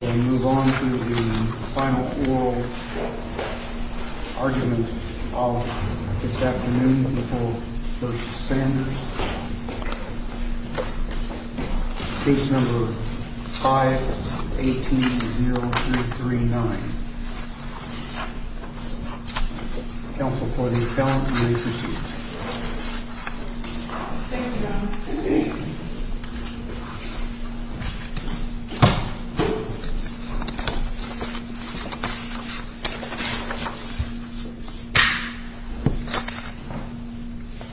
We move on to the final oral argument of this afternoon before v. Sanders, case number 5-18-0339, Counsel for the Accounting Agencies. Thank you, Governor. Thank you. Thank you.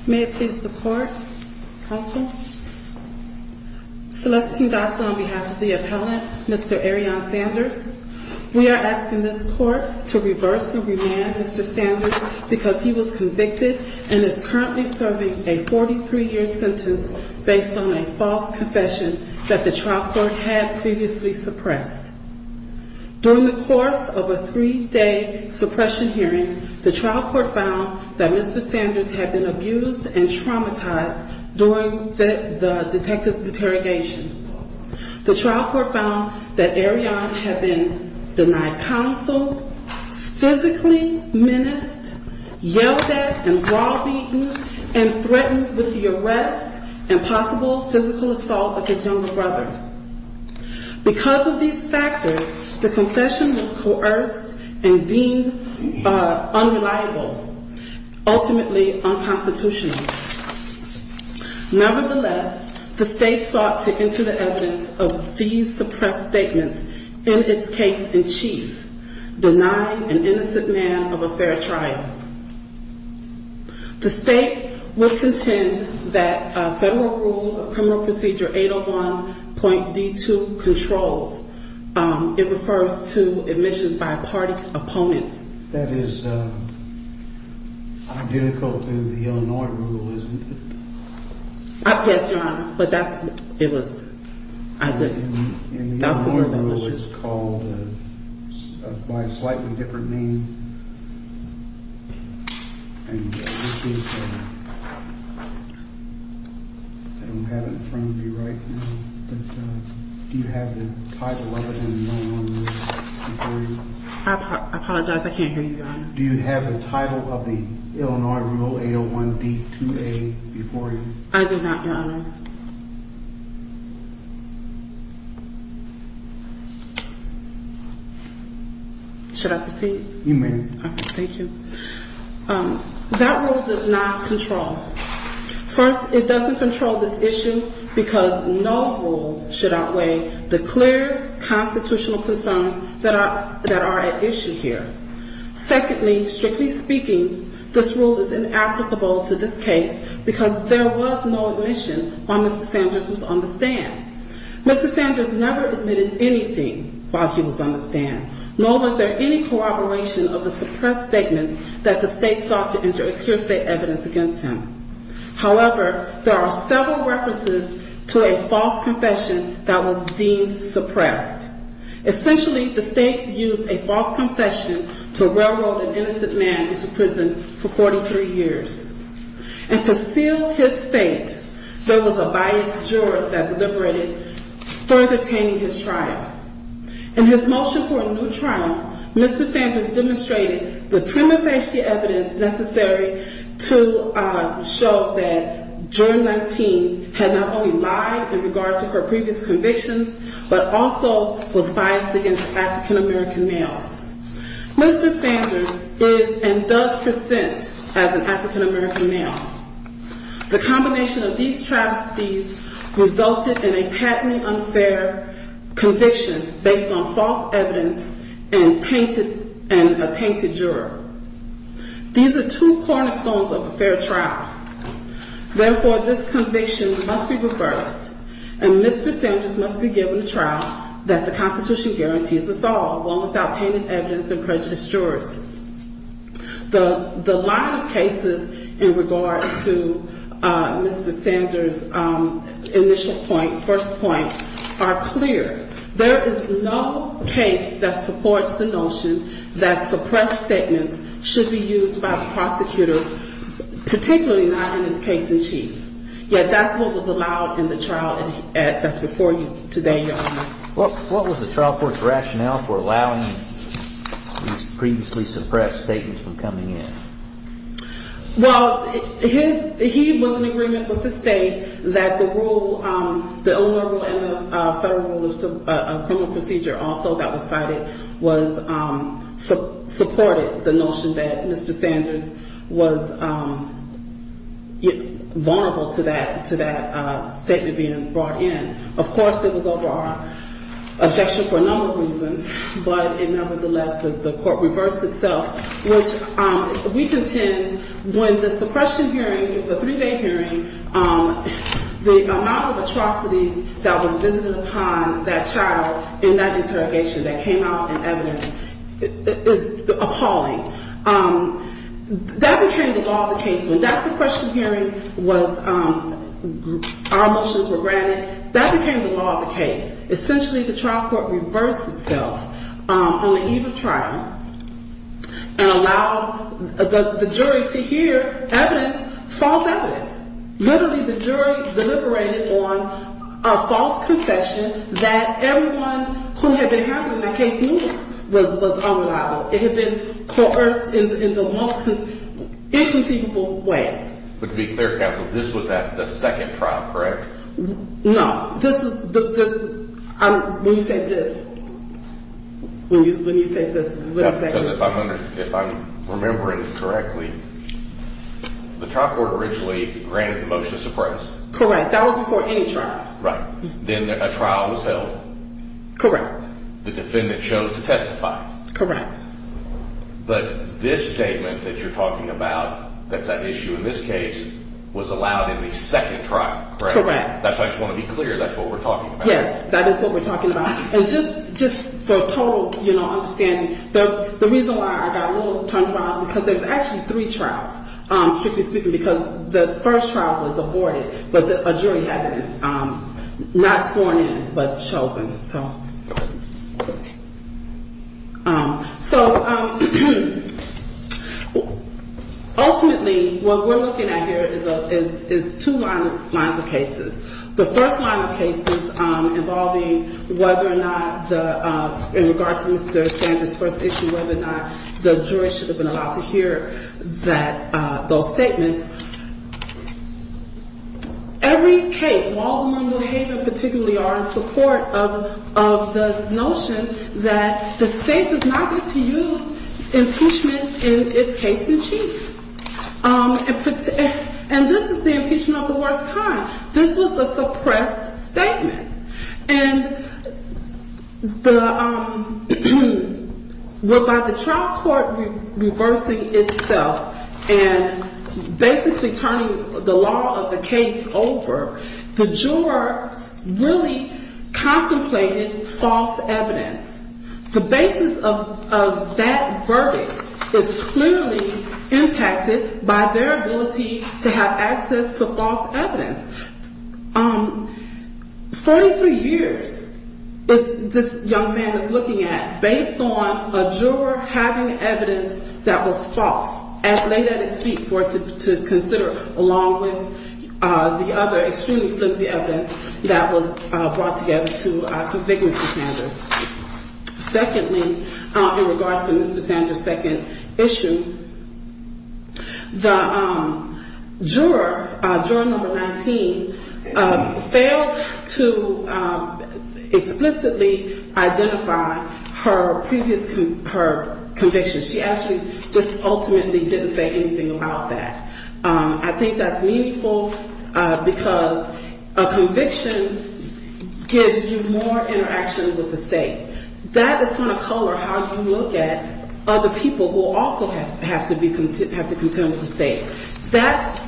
May it please the Court. Counsel. Celestine Dotson on behalf of the appellant, Mr. Arion Sanders. We are asking this Court to reverse the remand, Mr. Sanders, because he was convicted and is currently serving a 43-year sentence based on a false confession that the trial court had previously suppressed. During the course of a three-day suppression hearing, the trial court found that Mr. Sanders had been abused and traumatized during the detective's interrogation. The trial court found that Arion had been denied counsel, physically menaced, yelled at and brawl beaten, and threatened with the arrest and possible physical assault of his younger brother. Because of these factors, the confession was coerced and deemed unreliable, ultimately unconstitutional. Nevertheless, the state sought to enter the evidence of these suppressed statements in its case in chief, denying an innocent man of a fair trial. The state would contend that Federal Rule of Criminal Procedure 801.D2 controls. It refers to admissions by party opponents. That is identical to the Illinois rule, isn't it? Yes, Your Honor, but that's what it was. In the Illinois rule, it's called by a slightly different name. I don't have it in front of me right now, but do you have the title of it in the Illinois rule before you? I apologize, I can't hear you, Your Honor. Do you have the title of the Illinois rule 801.D2A before you? I do not, Your Honor. Should I proceed? You may. Okay, thank you. That rule does not control. First, it doesn't control this issue because no rule should outweigh the clear constitutional concerns that are at issue here. Secondly, strictly speaking, this rule is inapplicable to this case because there was no admission while Mr. Sanders was on the stand. Mr. Sanders never admitted anything while he was on the stand, nor was there any corroboration of the suppressed statements that the state sought to injure as hearsay evidence against him. However, there are several references to a false confession that was deemed suppressed. Essentially, the state used a false confession to railroad an innocent man into prison for 43 years. And to seal his fate, there was a biased juror that deliberated, further tainting his trial. In his motion for a new trial, Mr. Sanders demonstrated the prima facie evidence necessary to show that Juror 19 had not only lied in regard to her previous convictions, but also was biased against African-American males. Mr. Sanders is and does present as an African-American male. The combination of these travesties resulted in a patently unfair conviction based on false evidence and a tainted juror. These are two cornerstones of a fair trial. Therefore, this conviction must be reversed, and Mr. Sanders must be given a trial that the Constitution guarantees is solved, one without tainted evidence and prejudiced jurors. The line of cases in regard to Mr. Sanders' initial point, first point, are clear. There is no case that supports the notion that suppressed statements should be used by the prosecutor, particularly not in his case in chief. Yet that's what was allowed in the trial that's before you today, Your Honor. What was the trial court's rationale for allowing these previously suppressed statements from coming in? Well, his – he was in agreement with the state that the rule – the Illinois rule and the federal rule of criminal procedure also that was cited was – supported the notion that Mr. Sanders was vulnerable to that statement being brought in. Of course, it was over our objection for a number of reasons, but nevertheless, the court reversed itself, which we contend when the suppression hearing – it was a three-day hearing – the amount of atrocities that was visited upon that child in that interrogation that came out in evidence is appalling. That became the law of the case. When that suppression hearing was – our motions were granted, that became the law of the case. Essentially, the trial court reversed itself on the eve of trial and allowed the jury to hear evidence, false evidence. Literally, the jury deliberated on a false confession that everyone who had been having that case knew was unreliable. It had been coerced in the most inconceivable way. But to be clear, counsel, this was at the second trial, correct? No. This was – when you say this – when you say this – If I'm remembering correctly, the trial court originally granted the motion to suppress. Correct. That was before any trial. Right. Then a trial was held. Correct. The defendant chose to testify. Correct. But this statement that you're talking about that's at issue in this case was allowed in the second trial, correct? Correct. That's why I just want to be clear. That's what we're talking about. Yes, that is what we're talking about. And just for total, you know, understanding, the reason why I got a little turned around, because there's actually three trials, strictly speaking, because the first trial was aborted, but a jury had not sworn in but chosen. So ultimately, what we're looking at here is two lines of cases. The first line of cases involving whether or not the – in regard to Mr. Sanders' first issue, whether or not the jury should have been allowed to hear that – those statements. Every case, Waldemar and Behavior particularly, are in support of the notion that the state does not get to use impeachment in its case in chief. And this is the impeachment of the worst kind. This was a suppressed statement. And by the trial court reversing itself and basically turning the law of the case over, the jurors really contemplated false evidence. The basis of that verdict is clearly impacted by their ability to have access to false evidence. Forty-three years, this young man is looking at, based on a juror having evidence that was false, and laid at his feet for him to consider along with the other extremely flimsy evidence that was brought together to convict Mr. Sanders. Secondly, in regard to Mr. Sanders' second issue, the juror, juror number 19, failed to explicitly identify her previous – her conviction. She actually just ultimately didn't say anything about that. I think that's meaningful because a conviction gives you more interaction with the state. That is going to color how you look at other people who also have to be – have to contend with the state. That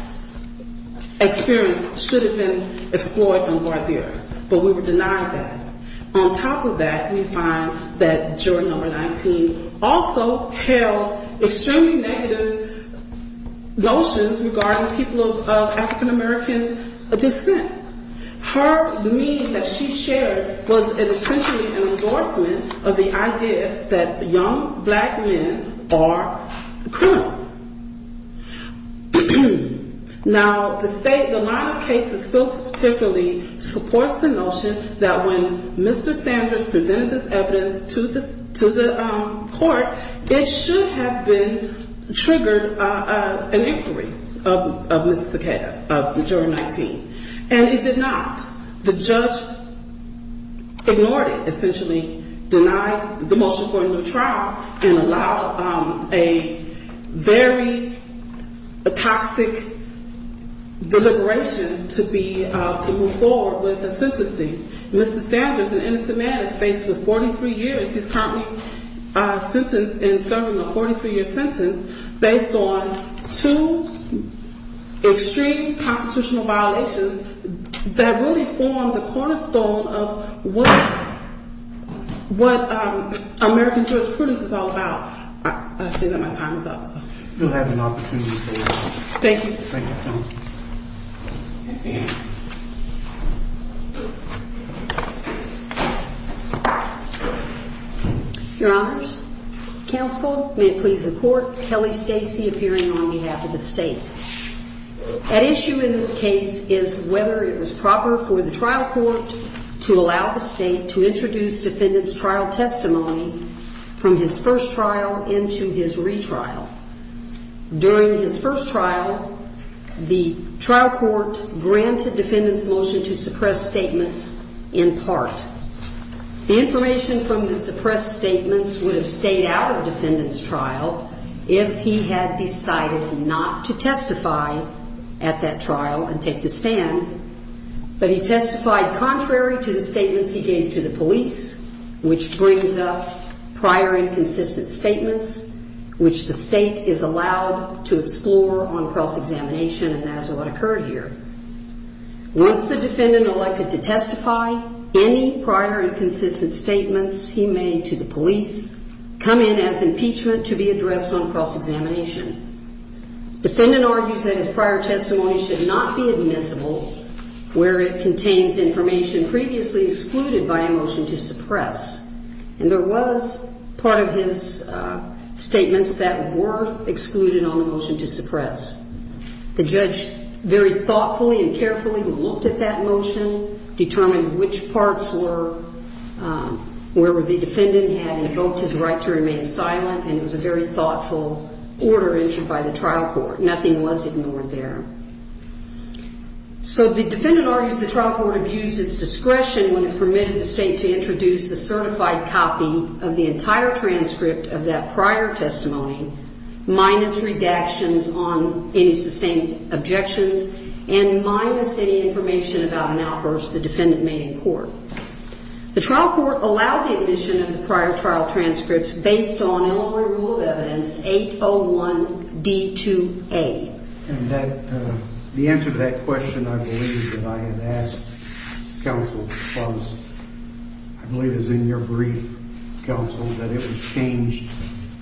experience should have been explored in Ward 0, but we were denied that. On top of that, we find that juror number 19 also held extremely negative notions regarding people of African-American descent. Her meaning that she shared was essentially an endorsement of the idea that young black men are criminals. Now, the state – the line of cases folks particularly supports the notion that when Mr. Sanders presented this evidence to the court, it should have been – triggered an inquiry of Ms. Sakata, of juror 19, and it did not. The judge ignored it, essentially denied the motion for a new trial and allowed a very toxic deliberation to be – to move forward with a sentencing. Mr. Sanders, an innocent man, is faced with 43 years. He's currently sentenced and serving a 43-year sentence based on two extreme constitutional violations that really form the cornerstone of what American jurisprudence is all about. I see that my time is up. You'll have an opportunity later. Thank you. Thank you. Your honors, counsel, may it please the court, Kelly Stacey appearing on behalf of the state. At issue in this case is whether it was proper for the trial court to allow the state to introduce defendant's trial testimony from his first trial into his retrial. During his first trial, the trial court granted defendant's motion to suppress statements in part. The information from the suppressed statements would have stayed out of defendant's trial if he had decided not to testify at that trial and take the stand, but he testified contrary to the statements he gave to the police, which brings up prior inconsistent statements, which the state is allowed to explore on cross-examination, and that is what occurred here. Once the defendant elected to testify, any prior inconsistent statements he made to the police come in as impeachment to be addressed on cross-examination. Defendant argues that his prior testimony should not be admissible where it contains information previously excluded by a motion to suppress, and there was part of his statements that were excluded on the motion to suppress. The judge very thoughtfully and carefully looked at that motion, determined which parts were where the defendant had invoked his right to remain silent, and it was a very thoughtful order issued by the trial court. Nothing was ignored there. So the defendant argues the trial court abused its discretion when it permitted the state to introduce a certified copy of the entire transcript of that prior testimony minus redactions on any sustained objections and minus any information about an outburst the defendant made in court. The trial court allowed the admission of the prior trial transcripts based on Illinois Rule of Evidence 801D2A. The answer to that question, I believe, that I had asked counsel was, I believe it was in your brief, counsel, that it was changed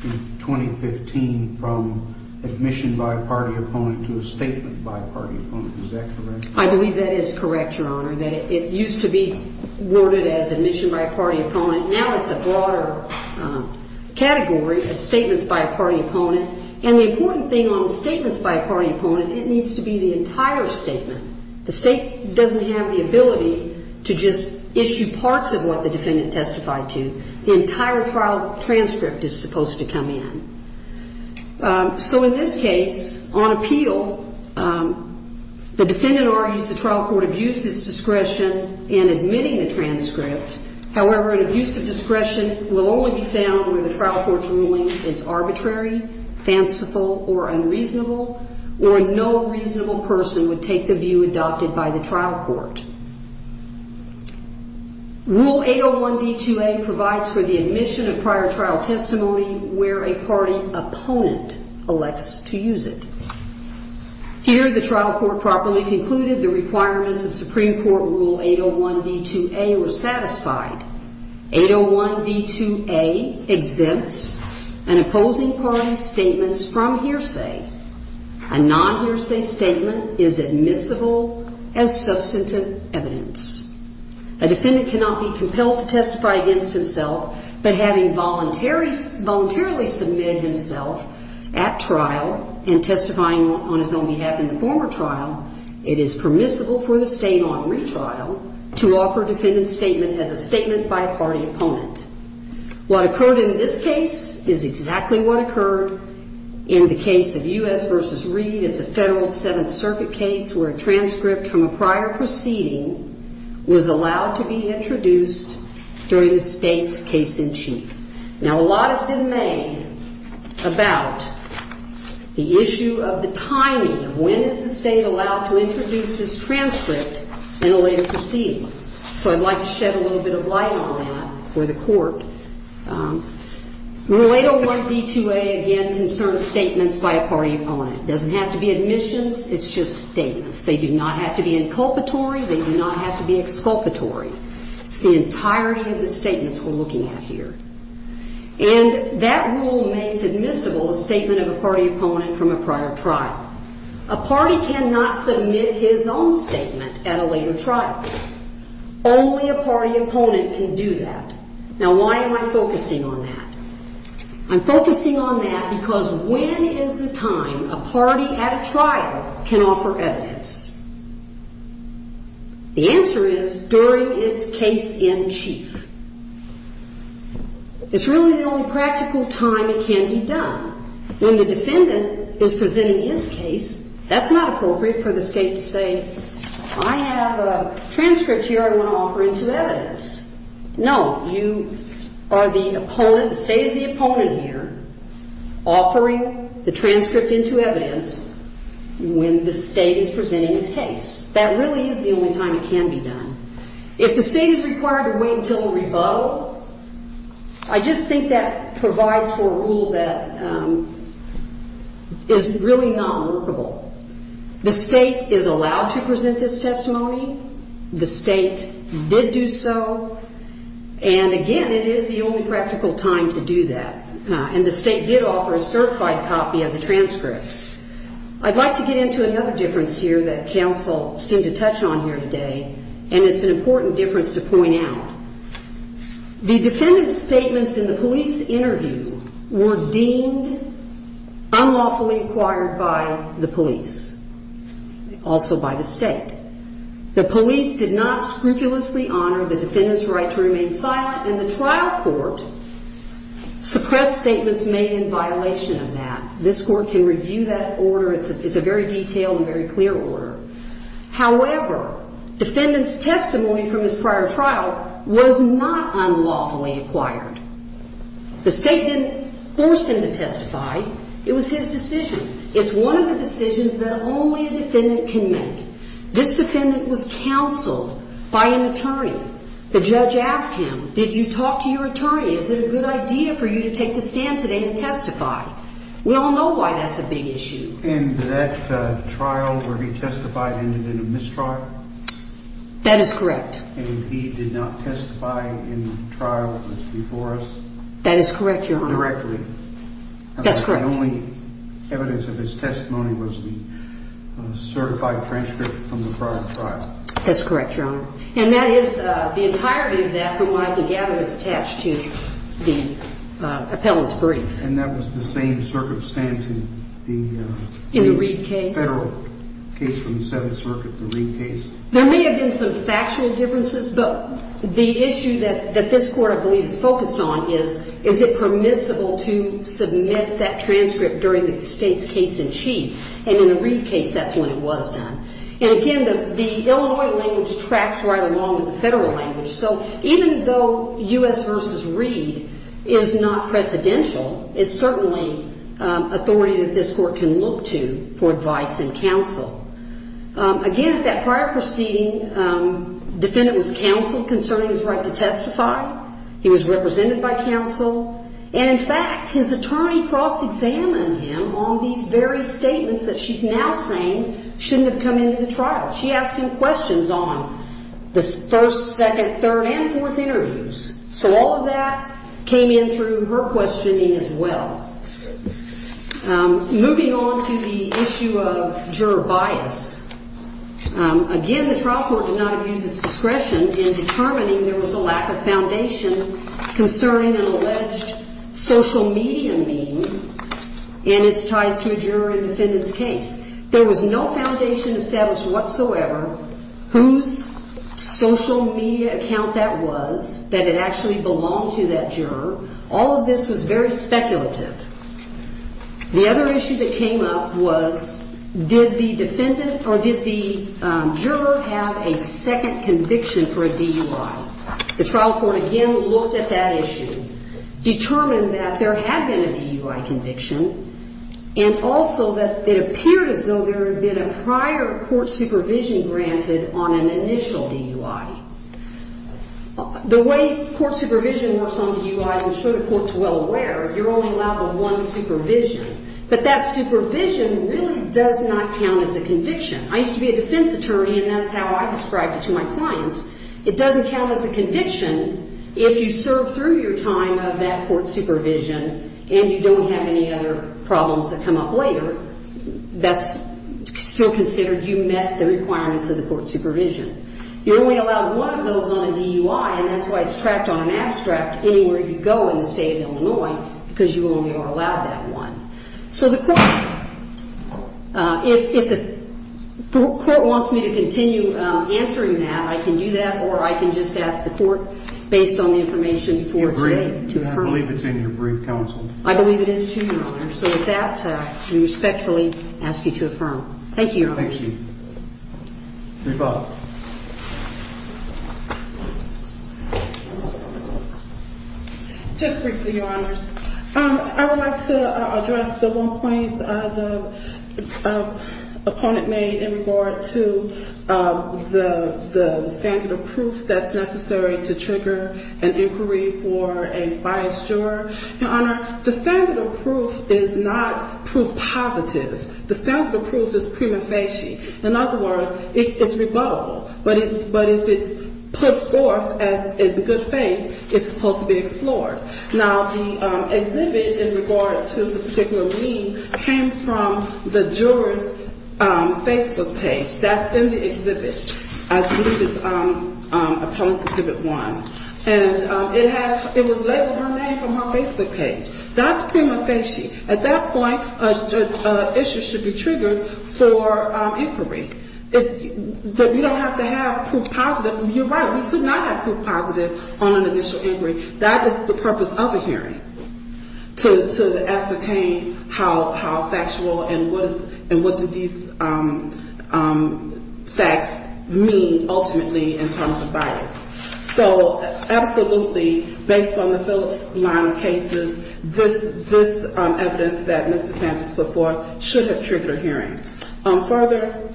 in 2015 from admission by a party opponent to a statement by a party opponent. Is that correct? I believe that is correct, Your Honor, that it used to be worded as admission by a party opponent. Now it's a broader category, statements by a party opponent. And the important thing on statements by a party opponent, it needs to be the entire statement. The state doesn't have the ability to just issue parts of what the defendant testified to. The entire trial transcript is supposed to come in. So in this case, on appeal, the defendant argues the trial court abused its discretion in admitting the transcript. However, an abuse of discretion will only be found when the trial court's ruling is arbitrary, fanciful, or unreasonable, or no reasonable person would take the view adopted by the trial court. Rule 801D2A provides for the admission of prior trial testimony where a party opponent elects to use it. Here, the trial court properly concluded the requirements of Supreme Court Rule 801D2A were satisfied. 801D2A exempts an opposing party's statements from hearsay. A non-hearsay statement is admissible as substantive evidence. A defendant cannot be compelled to testify against himself, but having voluntarily submitted himself at trial and testifying on his own behalf in the former trial, it is permissible for the state on retrial to offer a defendant's statement as a statement by a party opponent. What occurred in this case is exactly what occurred in the case of U.S. v. Reed. It's a Federal Seventh Circuit case where a transcript from a prior proceeding was allowed to be introduced during the state's case-in-chief. Now, a lot has been made about the issue of the timing of when is the state allowed to introduce this transcript in a later proceeding. So I'd like to shed a little bit of light on that for the Court. Rule 801D2A, again, concerns statements by a party opponent. It doesn't have to be admissions. It's just statements. They do not have to be inculpatory. They do not have to be exculpatory. It's the entirety of the statements we're looking at here. And that rule makes admissible a statement of a party opponent from a prior trial. A party cannot submit his own statement at a later trial. Only a party opponent can do that. Now, why am I focusing on that? I'm focusing on that because when is the time a party at a trial can offer evidence? The answer is during its case-in-chief. It's really the only practical time it can be done. When the defendant is presenting his case, that's not appropriate for the state to say, I have a transcript here I want to offer it to evidence. No, you are the opponent, the state is the opponent here, offering the transcript into evidence when the state is presenting its case. That really is the only time it can be done. If the state is required to wait until a rebuttal, I just think that provides for a rule that is really not workable. The state is allowed to present this testimony. The state did do so. And, again, it is the only practical time to do that. And the state did offer a certified copy of the transcript. I'd like to get into another difference here that counsel seemed to touch on here today, and it's an important difference to point out. The defendant's statements in the police interview were deemed unlawfully acquired by the police, also by the state. The police did not scrupulously honor the defendant's right to remain silent, and the trial court suppressed statements made in violation of that. This Court can review that order. It's a very detailed and very clear order. However, defendant's testimony from his prior trial was not unlawfully acquired. The state didn't force him to testify. It was his decision. It's one of the decisions that only a defendant can make. This defendant was counseled by an attorney. The judge asked him, did you talk to your attorney? Is it a good idea for you to take the stand today and testify? We all know why that's a big issue. And that trial where he testified ended in a mistrial? That is correct. And he did not testify in the trial that's before us? That is correct, Your Honor. Directly? That's correct. And the only evidence of his testimony was the certified transcript from the prior trial? That's correct, Your Honor. And that is the entirety of that from what I can gather is attached to the appellant's brief. And that was the same circumstance in the federal case from the Seventh Circuit, the Reid case? There may have been some factual differences, but the issue that this court, I believe, is focused on is, is it permissible to submit that transcript during the state's case in chief? And in the Reid case, that's when it was done. And, again, the Illinois language tracks right along with the federal language. So even though U.S. v. Reid is not precedential, it's certainly authority that this court can look to for advice and counsel. Again, at that prior proceeding, the defendant was counsel concerning his right to testify. He was represented by counsel. And, in fact, his attorney cross-examined him on these very statements that she's now saying shouldn't have come into the trial. She asked him questions on the first, second, third, and fourth interviews. So all of that came in through her questioning as well. Moving on to the issue of juror bias. Again, the trial court did not use its discretion in determining there was a lack of foundation concerning an alleged social media meme and its ties to a juror in the defendant's case. There was no foundation established whatsoever whose social media account that was, that it actually belonged to that juror. All of this was very speculative. The other issue that came up was did the defendant or did the juror have a second conviction for a DUI? The trial court, again, looked at that issue, determined that there had been a DUI conviction, and also that it appeared as though there had been a prior court supervision granted on an initial DUI. The way court supervision works on a DUI, I'm sure the court's well aware, you're only allowed the one supervision. But that supervision really does not count as a conviction. I used to be a defense attorney, and that's how I described it to my clients. It doesn't count as a conviction if you serve through your time of that court supervision and you don't have any other problems that come up later. That's still considered you met the requirements of the court supervision. You're only allowed one of those on a DUI, and that's why it's tracked on an abstract anywhere you go in the State of Illinois, because you only are allowed that one. So the court, if the court wants me to continue answering that, I can do that, or I can just ask the court, based on the information before today, to affirm. I believe it's in your brief counsel. I believe it is too, Your Honor. So with that, I respectfully ask you to affirm. Thank you, Your Honor. Thank you. Reba. Just briefly, Your Honor, I would like to address the one point the opponent made in regard to the standard of proof that's necessary to trigger an inquiry for a biased juror. Your Honor, the standard of proof is not proof positive. The standard of proof is prima facie. In other words, it's rebuttable. But if it's put forth in good faith, it's supposed to be explored. Now, the exhibit in regard to the particular lead came from the juror's Facebook page. That's in the exhibit. I believe it's Appellants Exhibit 1. And it was labeled her name from her Facebook page. That's prima facie. At that point, an issue should be triggered for inquiry. You don't have to have proof positive. You're right. We could not have proof positive on an initial inquiry. That is the purpose of a hearing, to ascertain how factual and what do these facts mean ultimately in terms of bias. So absolutely, based on the Phillips line of cases, this evidence that Mr. Sanders put forth should have triggered a hearing. Further,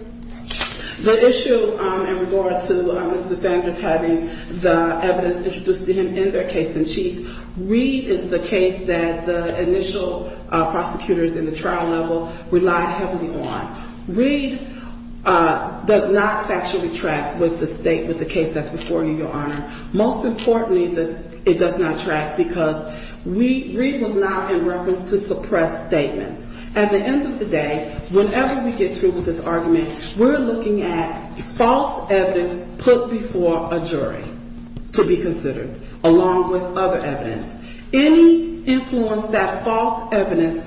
the issue in regard to Mr. Sanders having the evidence introduced to him in their case in chief, Reed is the case that the initial prosecutors in the trial level relied heavily on. Reed does not factually track with the case that's before you, Your Honor. Most importantly, it does not track because Reed was not in reference to suppressed statements. At the end of the day, whenever we get through with this argument, we're looking at false evidence put before a jury to be considered, along with other evidence. Any influence that false evidence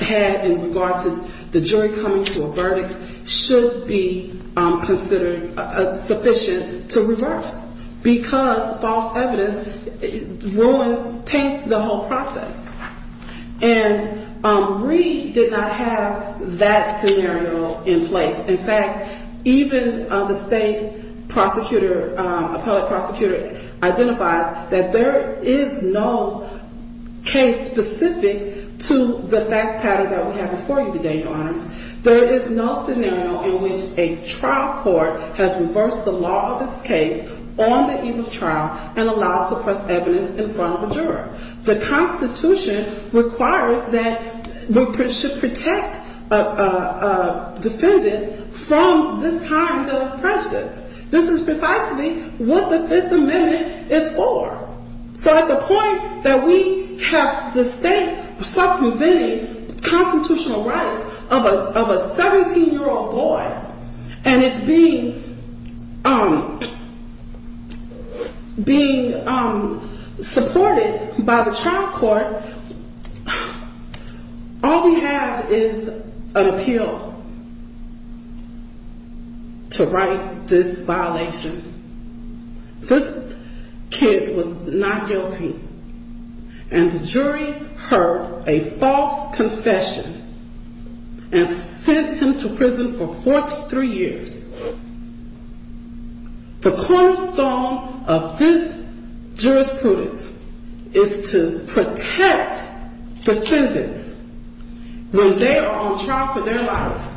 had in regard to the jury coming to a verdict should be considered sufficient to reverse, because false evidence ruins, taints the whole process. And Reed did not have that scenario in place. In fact, even the state prosecutor, appellate prosecutor, identifies that there is no case specific to the fact pattern that we have before you today, Your Honor. There is no scenario in which a trial court has reversed the law of its case on the eve of trial and allowed suppressed evidence in front of the juror. The Constitution requires that we should protect a defendant from this kind of prejudice. This is precisely what the Fifth Amendment is for. So at the point that we have the state circumventing constitutional rights of a 17-year-old boy, and it's being supported by the trial court, all we have is an appeal to right this violation. This kid was not guilty, and the jury heard a false confession and sent him to prison for 43 years. The cornerstone of this jurisprudence is to protect defendants when they are on trial for their lives.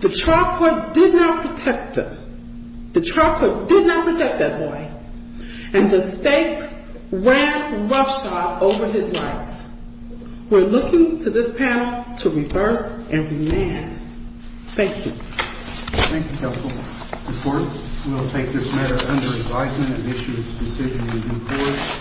The trial court did not protect them. The trial court did not protect that boy, and the state ran roughshod over his rights. We're looking to this panel to reverse and remand. Thank you. Thank you, Counsel. The court will take this matter under advisement and issue its decision in due course.